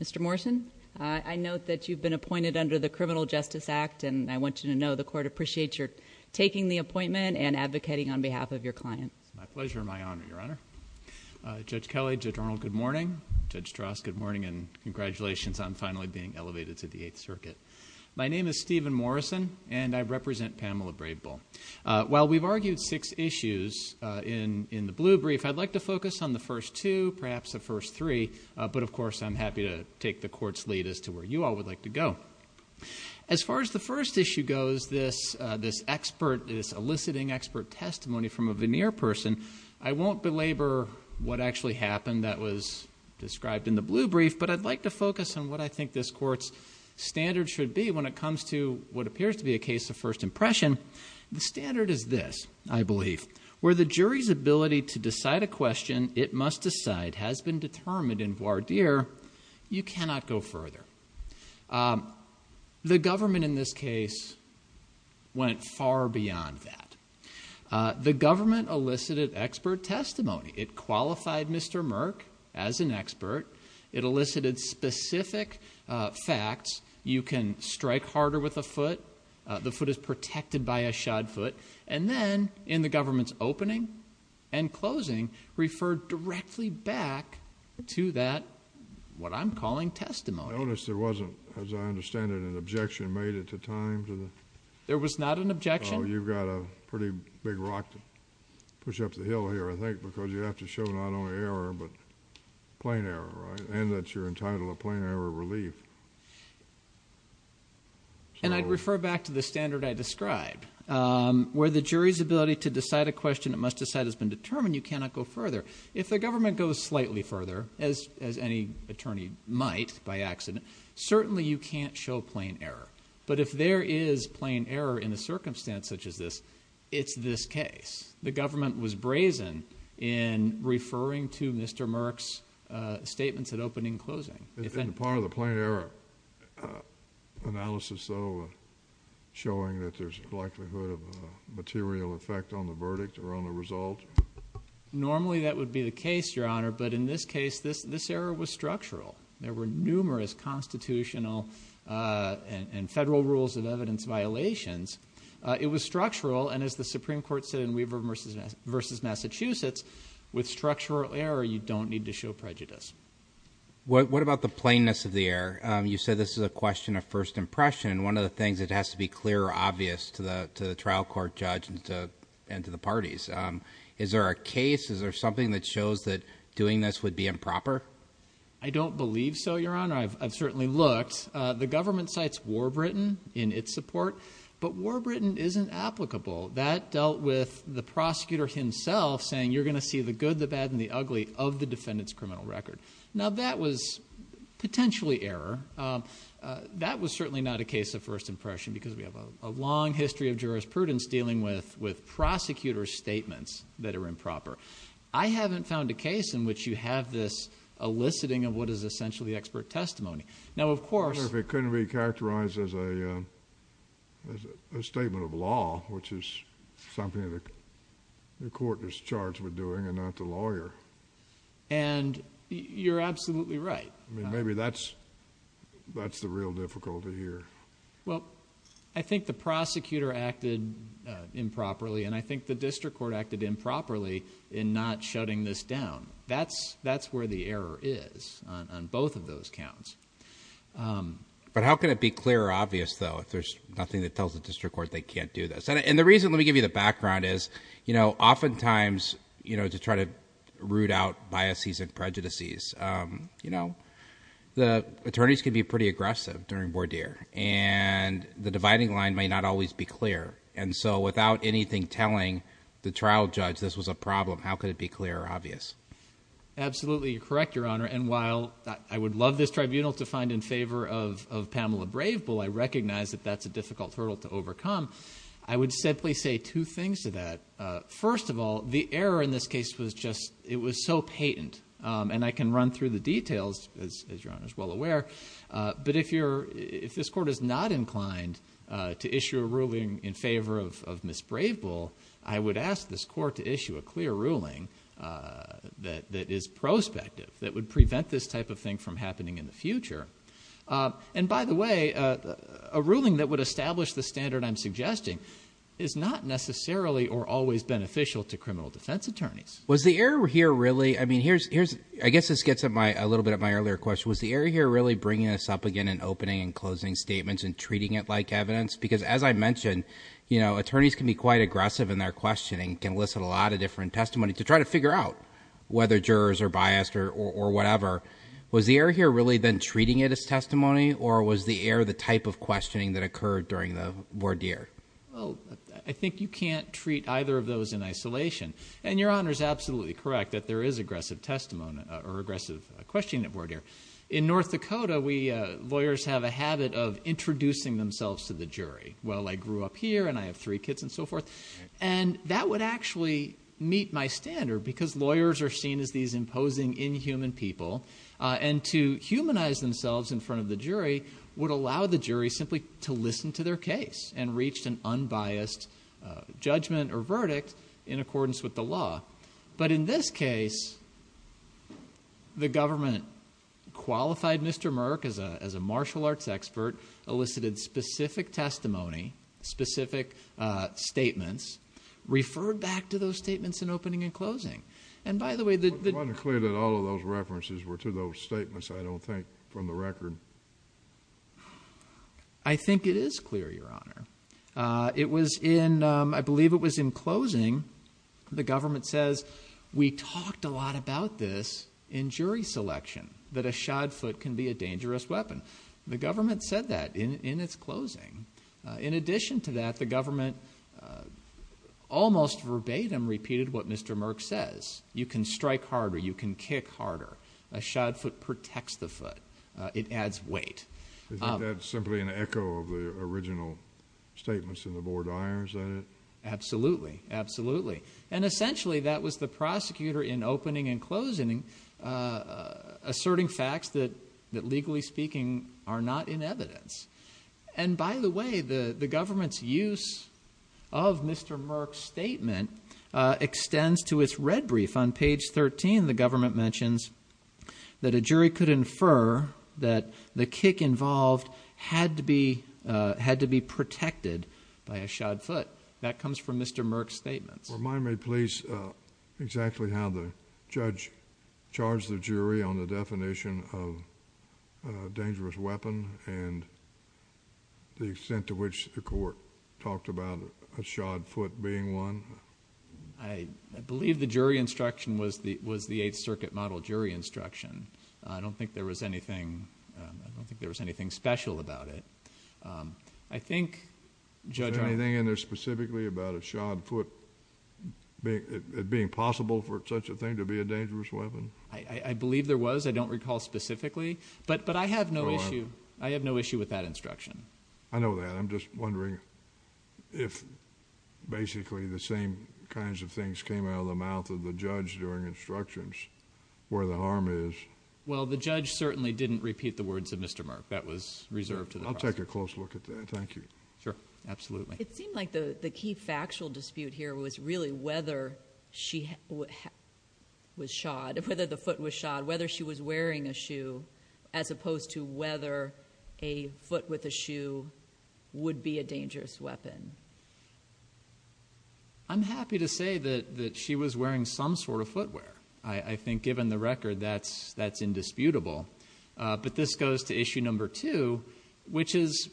Mr. Morrison, I note that you've been appointed under the Criminal Justice Act, and I want you to know the court appreciates your taking the appointment and advocating on behalf of your client. It's my pleasure and my honor, Your Honor. Judge Kelly, Judge Arnold, good morning, Judge Strauss, good morning, and congratulations on finally being elevated to the Eighth Circuit. My name is Stephen Morrison, and I represent Pamela Bravebull. While we've argued six issues in the blue brief, I'd like to focus on the first two, perhaps the first three, but of course I'm happy to take the Court's lead as to where you all would like to go. As far as the first issue goes, this eliciting expert testimony from a veneer person, I won't belabor what actually happened that was described in the blue brief, but I'd like to focus on what I think this Court's standard should be when it comes to what appears to be a case of first impression. The standard is this, I believe, where the jury's ability to decide a question, it must decide, has been determined in voir dire, you cannot go further. The government in this case went far beyond that. The government elicited expert testimony. It qualified Mr. Merck as an expert. It elicited specific facts. You can strike harder with a foot. The foot is protected by a shod foot. And then, in the government's opening and closing, referred directly back to that, what I'm calling testimony. I noticed there wasn't, as I understand it, an objection made at the time to the? There was not an objection. Oh, you've got a pretty big rock to push up the hill here, I think, because you have to show not only error, but plain error, right, and that you're entitled to plain error relief. And I'd refer back to the standard I described, where the jury's ability to decide a question, it must decide, has been determined, you cannot go further. If the government goes slightly further, as any attorney might, by accident, certainly you can't show plain error. But if there is plain error in a circumstance such as this, it's this case. The government was brazen in referring to Mr. Merck's statements at opening and closing. In the part of the plain error analysis, though, showing that there's a likelihood of a material effect on the verdict or on the result? Normally that would be the case, Your Honor, but in this case, this error was structural. There were numerous constitutional and federal rules of evidence violations. It was structural, and as the Supreme Court said in Weaver v. Massachusetts, with structural error, you don't need to show prejudice. What about the plainness of the error? You said this is a question of first impression, and one of the things that has to be clear or obvious to the trial court judge and to the parties. Is there a case, is there something that shows that doing this would be improper? I don't believe so, Your Honor. I've certainly looked. The government cites Warbritain in its support, but Warbritain isn't applicable. That dealt with the prosecutor himself saying, you're going to see the good, the bad, and the ugly of the defendant's criminal record. Now that was potentially error. That was certainly not a case of first impression because we have a long history of jurisprudence dealing with prosecutor's statements that are improper. I haven't found a case in which you have this eliciting of what is essentially expert testimony. Now of course... I wonder if it couldn't be characterized as a statement of law, which is something the lawyer... You're absolutely right. Maybe that's the real difficulty here. I think the prosecutor acted improperly, and I think the district court acted improperly in not shutting this down. That's where the error is on both of those counts. How can it be clear or obvious though if there's nothing that tells the district court they can't do this? The reason, let me give you the background, is oftentimes to try to root out biases and prejudices, the attorneys can be pretty aggressive during voir dire, and the dividing line may not always be clear. Without anything telling the trial judge this was a problem, how could it be clear or obvious? Absolutely you're correct, Your Honor, and while I would love this tribunal to find in favor of Pamela Brave Bull, I recognize that that's a difficult hurdle to overcome, I would simply say two things to that. First of all, the error in this case was just... it was so patent, and I can run through the details, as Your Honor is well aware, but if this court is not inclined to issue a ruling in favor of Ms. Brave Bull, I would ask this court to issue a clear ruling that is prospective, that would prevent this type of thing from happening in the future. And by the way, a ruling that would establish the standard I'm suggesting is not necessarily or always beneficial to criminal defense attorneys. Was the error here really... I mean, here's... I guess this gets at my... a little bit at my earlier question. Was the error here really bringing this up again in opening and closing statements and treating it like evidence? Because as I mentioned, attorneys can be quite aggressive in their questioning, can elicit a lot of different testimony to try to figure out whether jurors are biased or whatever. Was the error here really then treating it as testimony, or was the error the type of questioning that occurred during the voir dire? Well, I think you can't treat either of those in isolation. And Your Honor's absolutely correct that there is aggressive testimony or aggressive questioning at voir dire. In North Dakota, we... lawyers have a habit of introducing themselves to the jury. Well, I grew up here, and I have three kids, and so forth. And that would actually meet my standard, because lawyers are seen as these imposing inhuman people. And to humanize themselves in front of the jury would allow the jury simply to listen to their case and reach an unbiased judgment or verdict in accordance with the law. But in this case, the government qualified Mr. Merck as a martial arts expert, elicited specific testimony, specific statements, referred back to those statements in opening and closing. And by the way... Wasn't it clear that all of those references were to those statements, I don't think, from the record? I think it is clear, Your Honor. It was in... I believe it was in closing. The government says, we talked a lot about this in jury selection, that a shod foot can be a dangerous weapon. The government said that in its closing. In addition to that, the government almost verbatim repeated what Mr. Merck says. You can strike harder. You can kick harder. A shod foot protects the foot. It adds weight. Isn't that simply an echo of the original statements in the Board of Honors that it... Absolutely. Absolutely. And essentially, that was the prosecutor in opening and closing, asserting facts that legally speaking are not in evidence. And by the way, the government's use of Mr. Merck's statement extends to its red brief. On page 13, the government mentions that a jury could infer that the kick involved had to be protected by a shod foot. That comes from Mr. Merck's statements. Remind me, please, exactly how the judge charged the jury on the definition of a dangerous weapon and the extent to which the court talked about a shod foot being one? I believe the jury instruction was the Eighth Circuit model jury instruction. I don't think there was anything special about it. I think... Is there anything in there specifically about a shod foot being possible for such a thing to be a dangerous weapon? I believe there was. I don't recall specifically. But I have no issue with that instruction. I know that. I'm just wondering if basically the same kinds of things came out of the mouth of the judge during instructions where the harm is. Well, the judge certainly didn't repeat the words of Mr. Merck. That was reserved to the prosecutor. I'll take a close look at that. Thank you. Sure. Absolutely. It seemed like the key factual dispute here was really whether she was shod, whether the opposed to whether a foot with a shoe would be a dangerous weapon. I'm happy to say that she was wearing some sort of footwear. I think given the record, that's indisputable. But this goes to issue number two, which is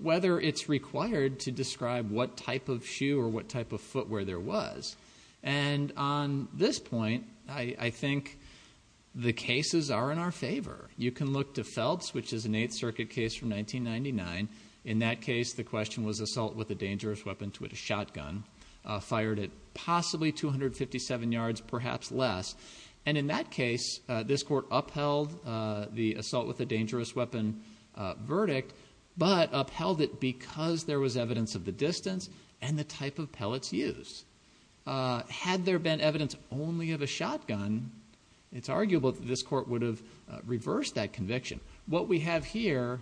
whether it's required to describe what type of shoe or what type of footwear there was. And on this point, I think the cases are in our favor. You can look to Phelps, which is an Eighth Circuit case from 1999. In that case, the question was assault with a dangerous weapon to a shotgun. Fired it possibly 257 yards, perhaps less. And in that case, this court upheld the assault with a dangerous weapon verdict, but upheld it because there was evidence of the distance and the type of pellets used. Had there been evidence only of a shotgun, it's arguable that this court would have reversed that conviction. What we have here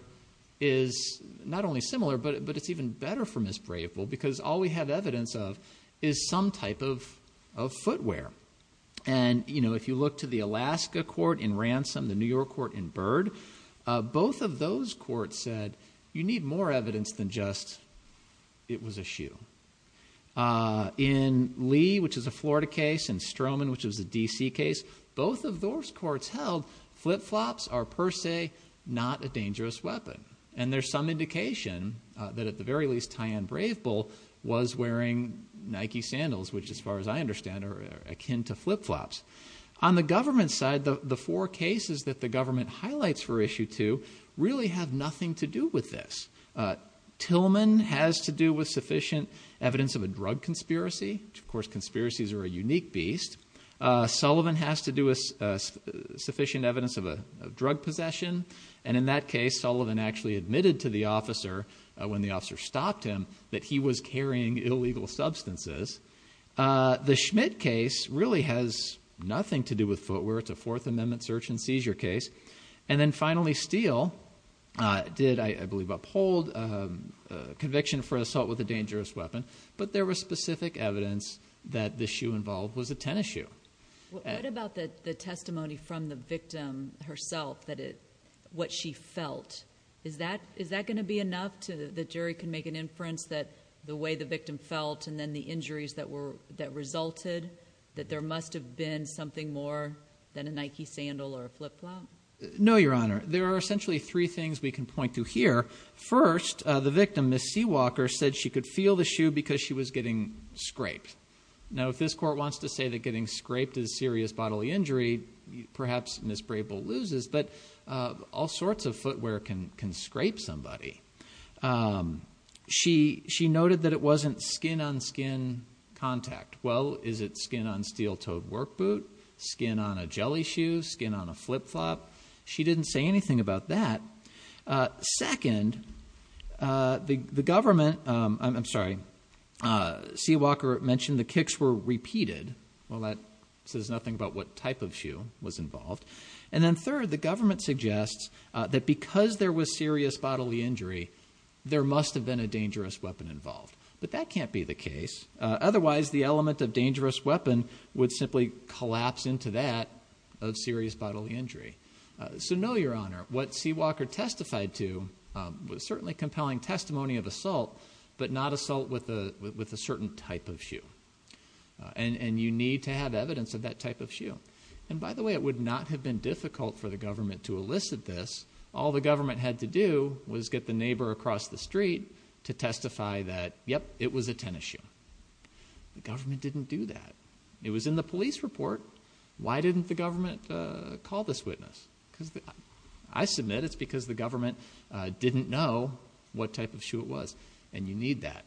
is not only similar, but it's even better for Ms. Brayful because all we have evidence of is some type of footwear. And if you look to the Alaska court in Ransom, the New York court in Bird, both of those courts said you need more evidence than just it was a shoe. In Lee, which is a Florida case, and Stroman, which is a D.C. case, both of those courts held flip-flops are per se not a dangerous weapon. And there's some indication that at the very least, Tyanne Brayful was wearing Nike sandals, which as far as I understand are akin to flip-flops. On the government side, the four cases that the government highlights for Issue 2 really have nothing to do with this. Tillman has to do with sufficient evidence of a drug conspiracy, which of course conspiracies are a unique beast. Sullivan has to do with sufficient evidence of a drug possession, and in that case, Sullivan actually admitted to the officer when the officer stopped him that he was carrying illegal substances. The Schmidt case really has nothing to do with footwear, it's a Fourth Amendment search and seizure case. And then finally, Steele did, I believe, uphold conviction for assault with a dangerous weapon, but there was specific evidence that the shoe involved was a tennis shoe. What about the testimony from the victim herself, what she felt? Is that going to be enough that the jury can make an inference that the way the victim felt and then the injuries that resulted, that there must have been something more than a Nike sandal or a flip-flop? No, Your Honor. There are essentially three things we can point to here. First, the victim, Ms. Seawalker, said she could feel the shoe because she was getting scraped. Now, if this court wants to say that getting scraped is serious bodily injury, perhaps Ms. Braybill loses, but all sorts of footwear can scrape somebody. She noted that it wasn't skin-on-skin contact. Well, is it skin-on-steel-toed work boot, skin-on-a-jelly shoe, skin-on-a-flip-flop? She didn't say anything about that. Second, the government, I'm sorry, Seawalker mentioned the kicks were repeated. Well, that says nothing about what type of shoe was involved. And then third, the government suggests that because there was serious bodily injury, there must have been a dangerous weapon involved. But that can't be the case. Otherwise, the element of dangerous weapon would simply collapse into that of serious bodily injury. So, no, Your Honor, what Seawalker testified to was certainly compelling testimony of assault, but not assault with a certain type of shoe. And you need to have evidence of that type of shoe. And by the way, it would not have been difficult for the government to elicit this. All the government had to do was get the neighbor across the street to testify that, yep, it was a tennis shoe. The government didn't do that. It was in the police report. Why didn't the government call this witness? I submit it's because the government didn't know what type of shoe it was. And you need that.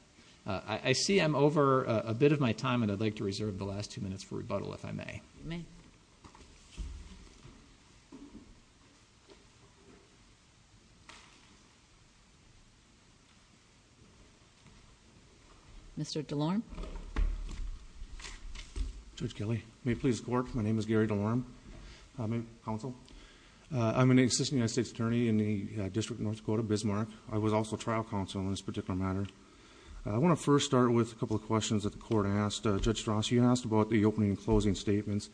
I see I'm over a bit of my time, and I'd like to reserve the last two minutes for rebuttal, if I may. Mr. DeLorme. Judge Kelly, may it please the court, my name is Gary DeLorme, I'm in counsel. I'm an assistant United States attorney in the District of North Dakota, Bismarck. I was also trial counsel in this particular matter. I want to first start with a couple of questions that the court asked. Judge Strauss, you asked about the opening and closing statements.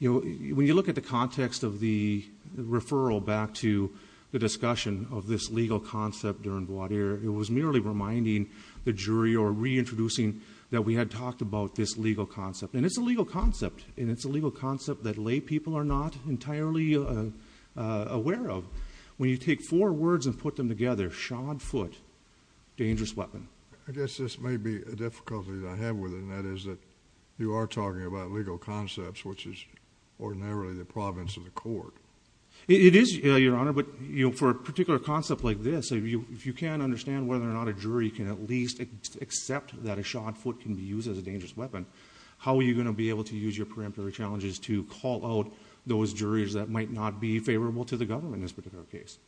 When you look at the context of the referral back to the discussion of this legal concept during voir dire, it was merely reminding the jury or reintroducing that we had talked about this legal concept. And it's a legal concept. And it's a legal concept that lay people are not entirely aware of. When you take four words and put them together, shod foot, dangerous weapon. I guess this may be a difficulty that I have with it, and that is that you are talking about legal concepts, which is ordinarily the province of the court. It is, Your Honor. But for a particular concept like this, if you can't understand whether or not a jury can at least accept that a shod foot can be used as a dangerous weapon, how are you going to be able to use your preemptory challenges to call out those juries that might not be favorable to the government in this particular case?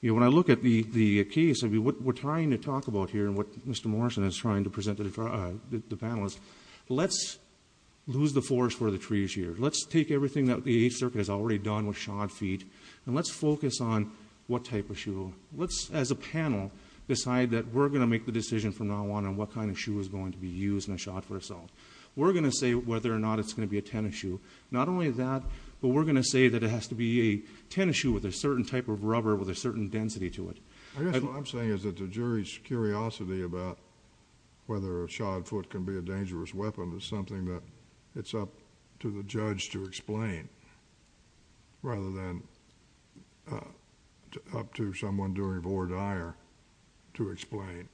When I look at the case, what we're trying to talk about here and what Mr. Morrison is trying to present to the panelists, let's lose the force for the trees here. Let's take everything that the Eighth Circuit has already done with shod feet and let's focus on what type of shoe. Let's as a panel decide that we're going to make the decision from now on on what kind of shoe is going to be used in a shod foot assault. We're going to say whether or not it's going to be a tennis shoe. Not only that, but we're going to say that it has to be a tennis shoe with a certain type of rubber, with a certain density to it. I guess what I'm saying is that the jury's curiosity about whether a shod foot can be a dangerous weapon is something that it's up to the judge to explain rather than up to someone doing voir dire to explain.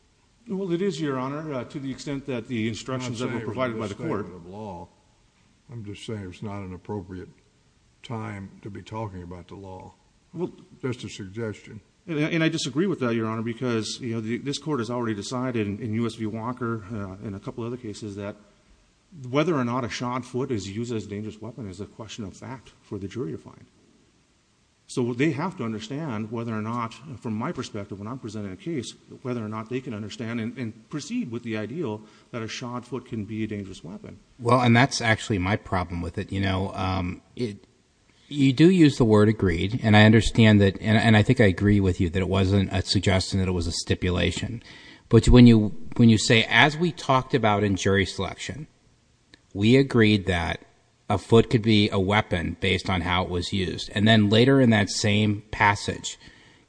Well, it is, Your Honor, to the extent that the instructions that were provided by the court... I'm not saying it was a misstatement of law. I'm just saying it was not an appropriate time to be talking about the law. Well, that's a suggestion. And I disagree with that, Your Honor, because this court has already decided in U.S. v. Walker and a couple of other cases that whether or not a shod foot is used as a dangerous weapon is a question of fact for the jury to find. So they have to understand whether or not, from my perspective when I'm presenting a case, whether or not they can understand and proceed with the ideal that a shod foot can be a dangerous weapon. Well, and that's actually my problem with it. You know, you do use the word agreed, and I understand that, and I think I agree with you that it wasn't a suggestion, it was a stipulation. But when you say, as we talked about in jury selection, we agreed that a foot could be a weapon based on how it was used, and then later in that same passage,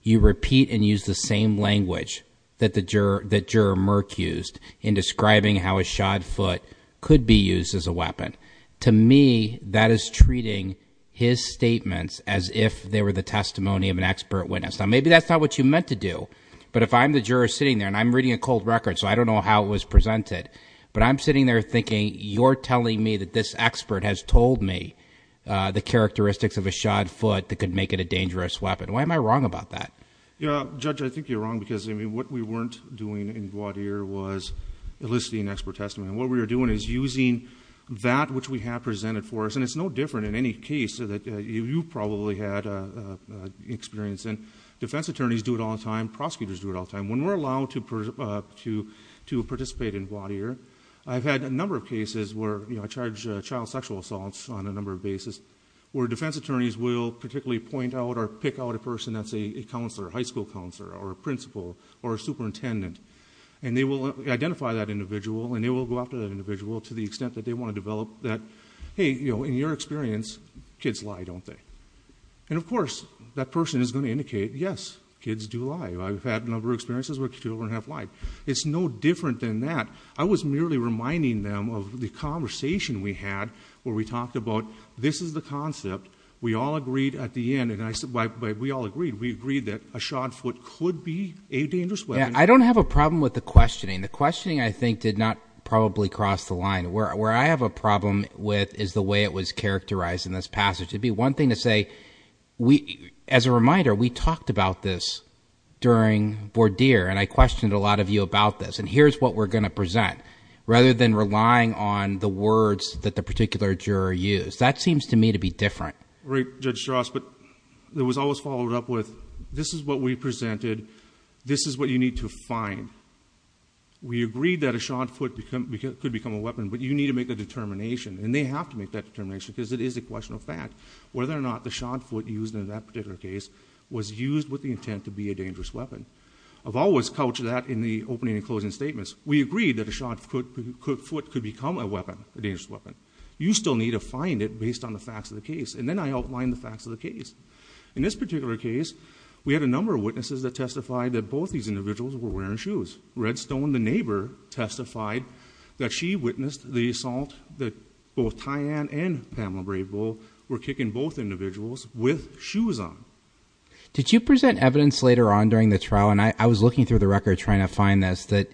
you repeat and use the same language that the juror Merck used in describing how a shod foot could be used as a weapon. To me, that is treating his statements as if they were the testimony of an expert witness. Now, maybe that's not what you meant to do, but if I'm the juror sitting there, and I'm reading a cold record, so I don't know how it was presented, but I'm sitting there thinking you're telling me that this expert has told me the characteristics of a shod foot that could make it a dangerous weapon. Why am I wrong about that? Yeah, Judge, I think you're wrong, because, I mean, what we weren't doing in Gwadir was eliciting expert testimony. And what we were doing is using that which we have presented for us, and it's no different in any case that you probably had experience in. Defense attorneys do it all the time, prosecutors do it all the time. When we're allowed to participate in Gwadir, I've had a number of cases where I charge child sexual assaults on a number of basis, where defense attorneys will particularly point out or pick out a person that's a counselor, a high school counselor, or a principal, or a superintendent. And they will identify that individual, and they will go after that individual to the extent that they want to develop that, hey, you know, in your experience, kids lie, don't they? And of course, that person is going to indicate, yes, kids do lie. I've had a number of experiences where children have lied. It's no different than that. I was merely reminding them of the conversation we had where we talked about this is the concept. We all agreed at the end, and I said, we all agreed, we agreed that a shod foot could be a dangerous weapon. I don't have a problem with the questioning. The questioning, I think, did not probably cross the line. Where I have a problem with is the way it was characterized in this passage. It'd be one thing to say, as a reminder, we talked about this during Gwadir, and I questioned a lot of you about this, and here's what we're going to present, rather than relying on the words that the particular juror used. That seems to me to be different. Right, Judge Strauss, but it was always followed up with, this is what we presented. This is what you need to find. We agreed that a shod foot could become a weapon, but you need to make a determination. And they have to make that determination, because it is a question of fact. Whether or not the shod foot used in that particular case was used with the intent to be a dangerous weapon. I've always couched that in the opening and closing statements. We agreed that a shod foot could become a weapon, a dangerous weapon. You still need to find it based on the facts of the case. And then I outlined the facts of the case. In this particular case, we had a number of witnesses that testified that both these individuals were wearing shoes. Redstone, the neighbor, testified that she witnessed the assault that both Tyann and Pamela Brave Bull were kicking both individuals with shoes on. Did you present evidence later on during the trial, and I was looking through the record trying to find this, that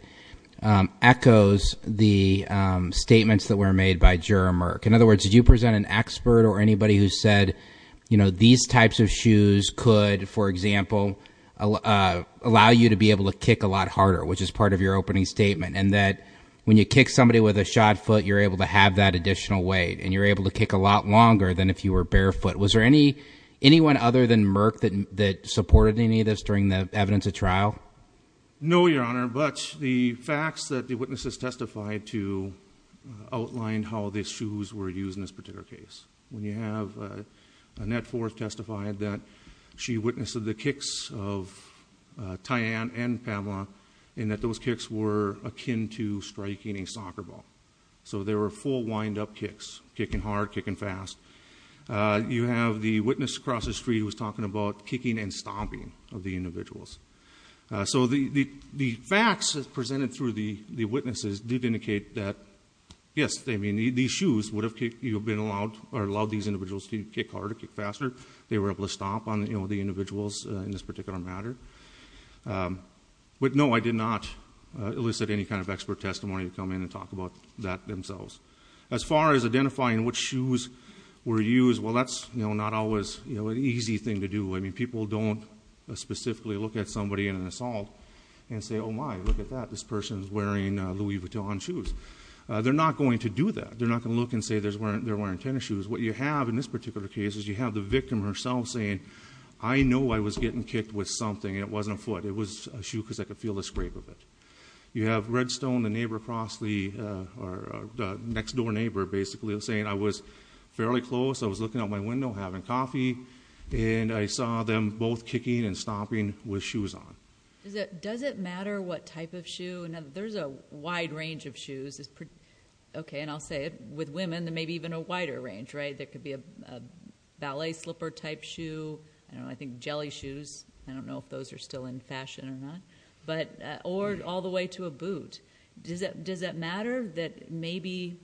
echoes the statements that were made by Juror Merk. In other words, did you present an expert or anybody who said these types of shoes could, for example, allow you to be able to kick a lot harder, which is part of your opening statement. And that when you kick somebody with a shod foot, you're able to have that additional weight, and you're able to kick a lot longer than if you were barefoot. Was there anyone other than Merk that supported any of this during the evidence of trial? No, Your Honor, but the facts that the witnesses testified to outlined how these shoes were used in this particular case. When you have Annette Forth testified that she witnessed the kicks of Tyann and Pamela, and that those kicks were akin to striking a soccer ball. So they were full wind up kicks, kicking hard, kicking fast. You have the witness across the street who was talking about kicking and stomping of the individuals. So the facts presented through the witnesses did indicate that, yes, these shoes would have allowed these individuals to kick harder, kick faster. They were able to stomp on the individuals in this particular matter. But no, I did not elicit any kind of expert testimony to come in and talk about that themselves. As far as identifying which shoes were used, well, that's not always an easy thing to do. I mean, people don't specifically look at somebody in an assault and say, my, look at that, this person's wearing Louis Vuitton shoes. They're not going to do that. They're not going to look and say they're wearing tennis shoes. What you have in this particular case is you have the victim herself saying, I know I was getting kicked with something, and it wasn't a foot. It was a shoe because I could feel the scrape of it. You have Redstone, the neighbor across the, or the next door neighbor basically, saying I was fairly close. I was looking out my window having coffee, and I saw them both kicking and stomping with shoes on. Does it matter what type of shoe? Now, there's a wide range of shoes, okay, and I'll say it, with women, there may be even a wider range, right? There could be a ballet slipper type shoe, I don't know, I think jelly shoes, I don't know if those are still in fashion or not. Or all the way to a boot. Does it matter that maybe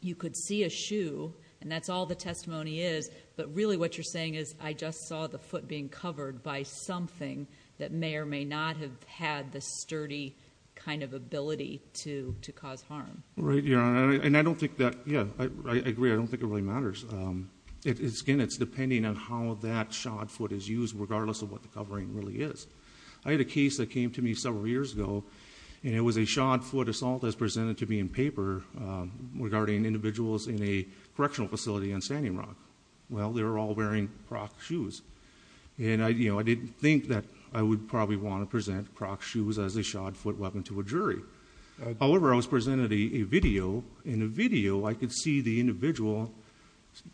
you could see a shoe, and that's all the testimony is, but really what you're saying is I just saw the foot being covered by something that may or may not have had the sturdy kind of ability to cause harm. Right, Your Honor, and I don't think that, yeah, I agree, I don't think it really matters. Again, it's depending on how that shod foot is used, regardless of what the covering really is. I had a case that came to me several years ago, and it was a shod foot assault as presented to me in paper regarding individuals in a correctional facility in Standing Rock. Well, they were all wearing Croc shoes. And I didn't think that I would probably want to present Croc shoes as a shod foot weapon to a jury. However, I was presented a video, and in the video I could see the individual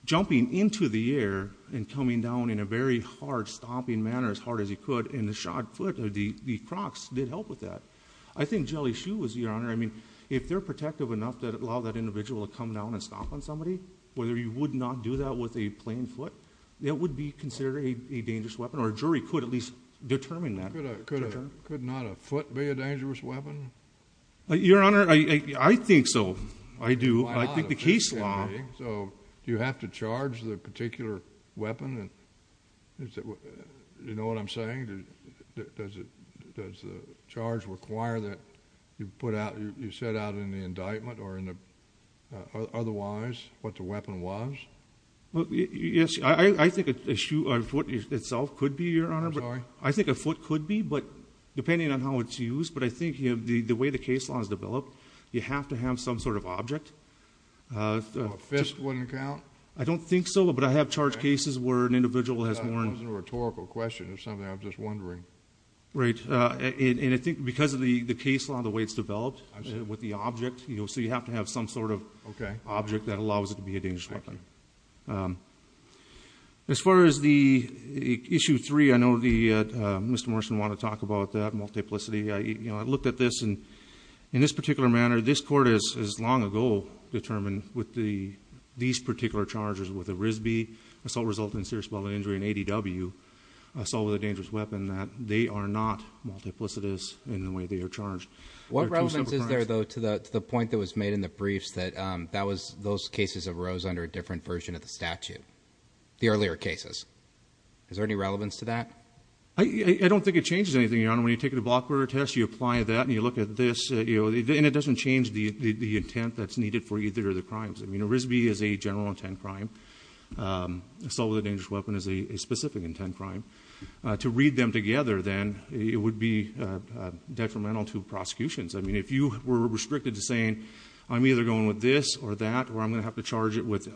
jumping into the air and coming down in a very hard stomping manner, as hard as he could, and the shod foot, the Crocs, did help with that. I think jelly shoe was, Your Honor, I mean, if they're protective enough to allow that individual to come down and stomp on somebody, whether you would not do that with a plain foot, that would be considered a dangerous weapon, or a jury could at least determine that. Could not a foot be a dangerous weapon? Your Honor, I think so. I do. I think the case law- So, do you have to charge the particular weapon? And, you know what I'm saying? Does the charge require that you put out, you set out in the indictment or in the, otherwise, what the weapon was? Well, yes, I think a foot itself could be, Your Honor. Sorry? I think a foot could be, but depending on how it's used, but I think the way the case law has developed, you have to have some sort of object. A fist wouldn't count? I don't think so, but I have charged cases where an individual has more- That wasn't a rhetorical question, it was something I was just wondering. Right, and I think because of the case law and the way it's developed, with the object, so you have to have some sort of object that allows it to be a dangerous weapon. As far as the issue three, I know Mr. Morrison wanted to talk about that multiplicity. I looked at this, and in this particular manner, this court has long ago determined with these particular charges, with a RISB assault resulting in serious bodily injury, an ADW, assault with a dangerous weapon, that they are not multiplicitous in the way they are charged. What relevance is there, though, to the point that was made in the briefs that those cases arose under a different version of the statute? The earlier cases, is there any relevance to that? I don't think it changes anything, Your Honor. When you take a block burglary test, you apply that, and you look at this, and it doesn't change the intent that's needed for either of the crimes. I mean, a RISB is a general intent crime, assault with a dangerous weapon is a specific intent crime. To read them together, then, it would be detrimental to prosecutions. I mean, if you were restricted to saying, I'm either going with this or that, or I'm going to have to charge it with,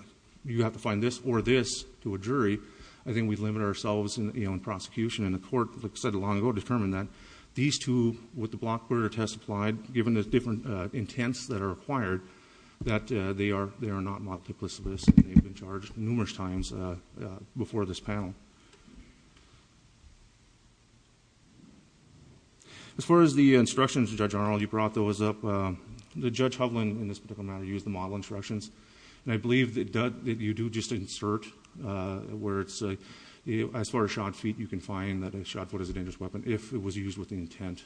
you have to find this or this to a jury, I think we limit ourselves in prosecution. And the court, like I said long ago, determined that these two, with the block burglary test applied, given the different intents that are required, that they are not multiplicitous, and they've been charged numerous times before this panel. As far as the instructions, Judge Arnold, you brought those up. Did Judge Hovland, in this particular matter, use the model instructions? And I believe that you do just insert where it's, as far as shot feet, you can find that a shot foot is a dangerous weapon if it was used with the intent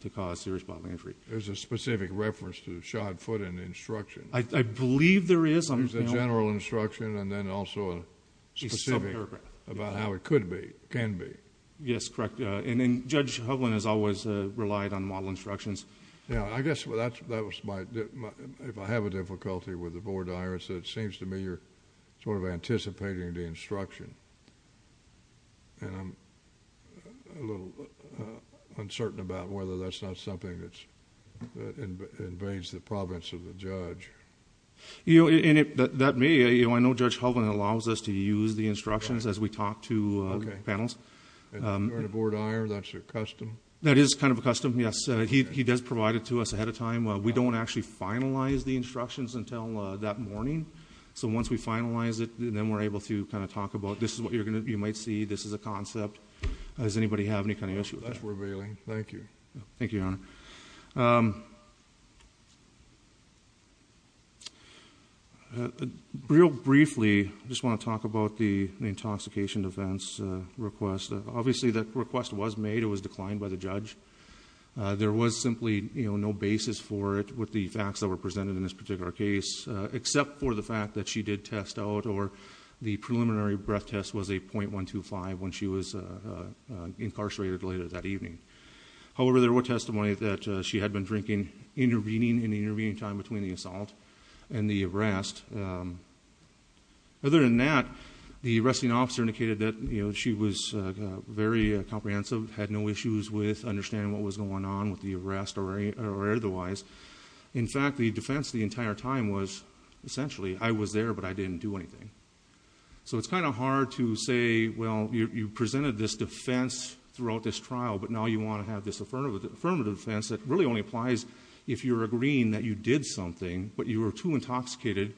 to cause serious bodily injury. There's a specific reference to shot foot in the instruction. I believe there is. There's a general instruction, and then also a specific about how it could be, can be. Yes, correct, and then Judge Hovland has always relied on model instructions. Yeah, I guess that was my, if I have a difficulty with the board IR, so it seems to me you're sort of anticipating the instruction. And I'm a little uncertain about whether that's not something that's, that invades the province of the judge. You know, and it, that may, you know, I know Judge Hovland allows us to use the instructions as we talk to panels. And during a board IR, that's a custom? That is kind of a custom, yes. He does provide it to us ahead of time. We don't actually finalize the instructions until that morning. So once we finalize it, then we're able to kind of talk about, this is what you're going to, you might see, this is a concept. Does anybody have any kind of issue with that? That's worth revealing. Thank you. Thank you, Your Honor. Real briefly, I just want to talk about the intoxication defense request. Obviously that request was made, it was declined by the judge. There was simply no basis for it with the facts that were presented in this particular case, except for the fact that she did test out or the preliminary breath test was a 0.125 when she was incarcerated later that evening. However, there were testimonies that she had been drinking in the intervening time between the assault and the arrest. Other than that, the arresting officer indicated that she was very comprehensive, had no issues with understanding what was going on with the arrest or otherwise. In fact, the defense the entire time was essentially, I was there, but I didn't do anything. So it's kind of hard to say, well, you presented this defense throughout this trial, but now you want to have this affirmative defense that really only applies if you're agreeing that you did something, but you were too intoxicated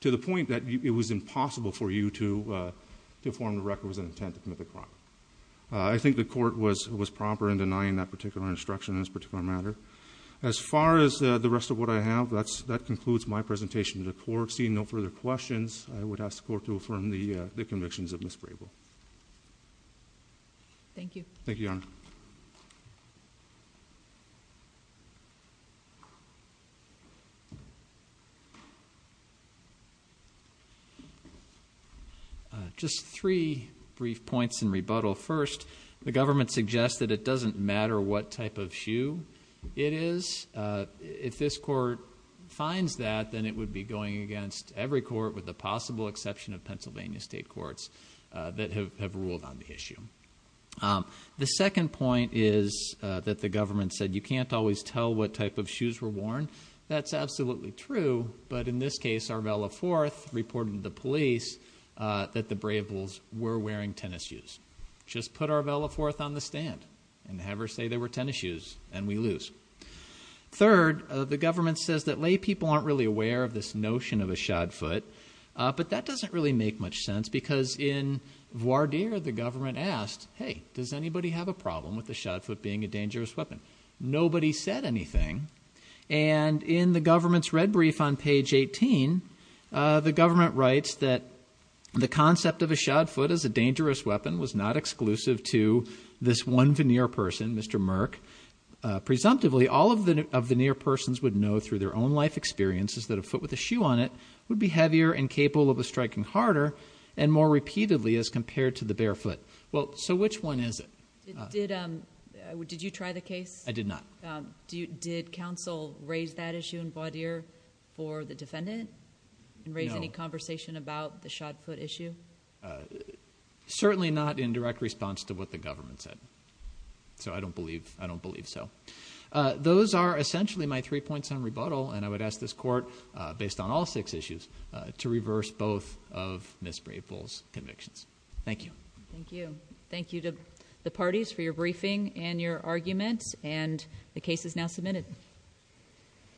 to the point that it was impossible for you to form the record with an intent to commit the crime. I think the court was proper in denying that particular instruction in this particular matter. As far as the rest of what I have, that concludes my presentation to the court. Seeing no further questions, I would ask the court to affirm the convictions of Ms. Grable. Thank you. Thank you, Your Honor. Just three brief points in rebuttal. First, the government suggests that it doesn't matter what type of shoe it is. If this court finds that, then it would be going against every court with the possible exception of Pennsylvania state courts that have ruled on the issue. The second point is that the government said you can't always tell what type of shoes were worn. That's absolutely true, but in this case, Arvella Forth reported to the police that the Brables were wearing tennis shoes. Just put Arvella Forth on the stand, and have her say they were tennis shoes, and we lose. Third, the government says that lay people aren't really aware of this notion of a shod foot, but that doesn't really make much sense, because in Voir dire, the government asked, hey, does anybody have a problem with a shod foot being a dangerous weapon? Nobody said anything. And in the government's red brief on page 18, the government writes that the concept of a shod foot as a dangerous weapon was not exclusive to this one veneer person, Mr. Merck. Presumptively, all of the veneer persons would know through their own life experiences that a foot with a shoe on it would be heavier and capable of a striking harder and more repeatedly as compared to the barefoot. Well, so which one is it? Did you try the case? I did not. Did counsel raise that issue in Voir dire for the defendant? And raise any conversation about the shod foot issue? Certainly not in direct response to what the government said, so I don't believe so. Those are essentially my three points on rebuttal, and I would ask this court, based on all six issues, to reverse both of Ms. Brable's convictions. Thank you. Thank you. Thank you to the parties for your briefing and your arguments, and the case is now submitted.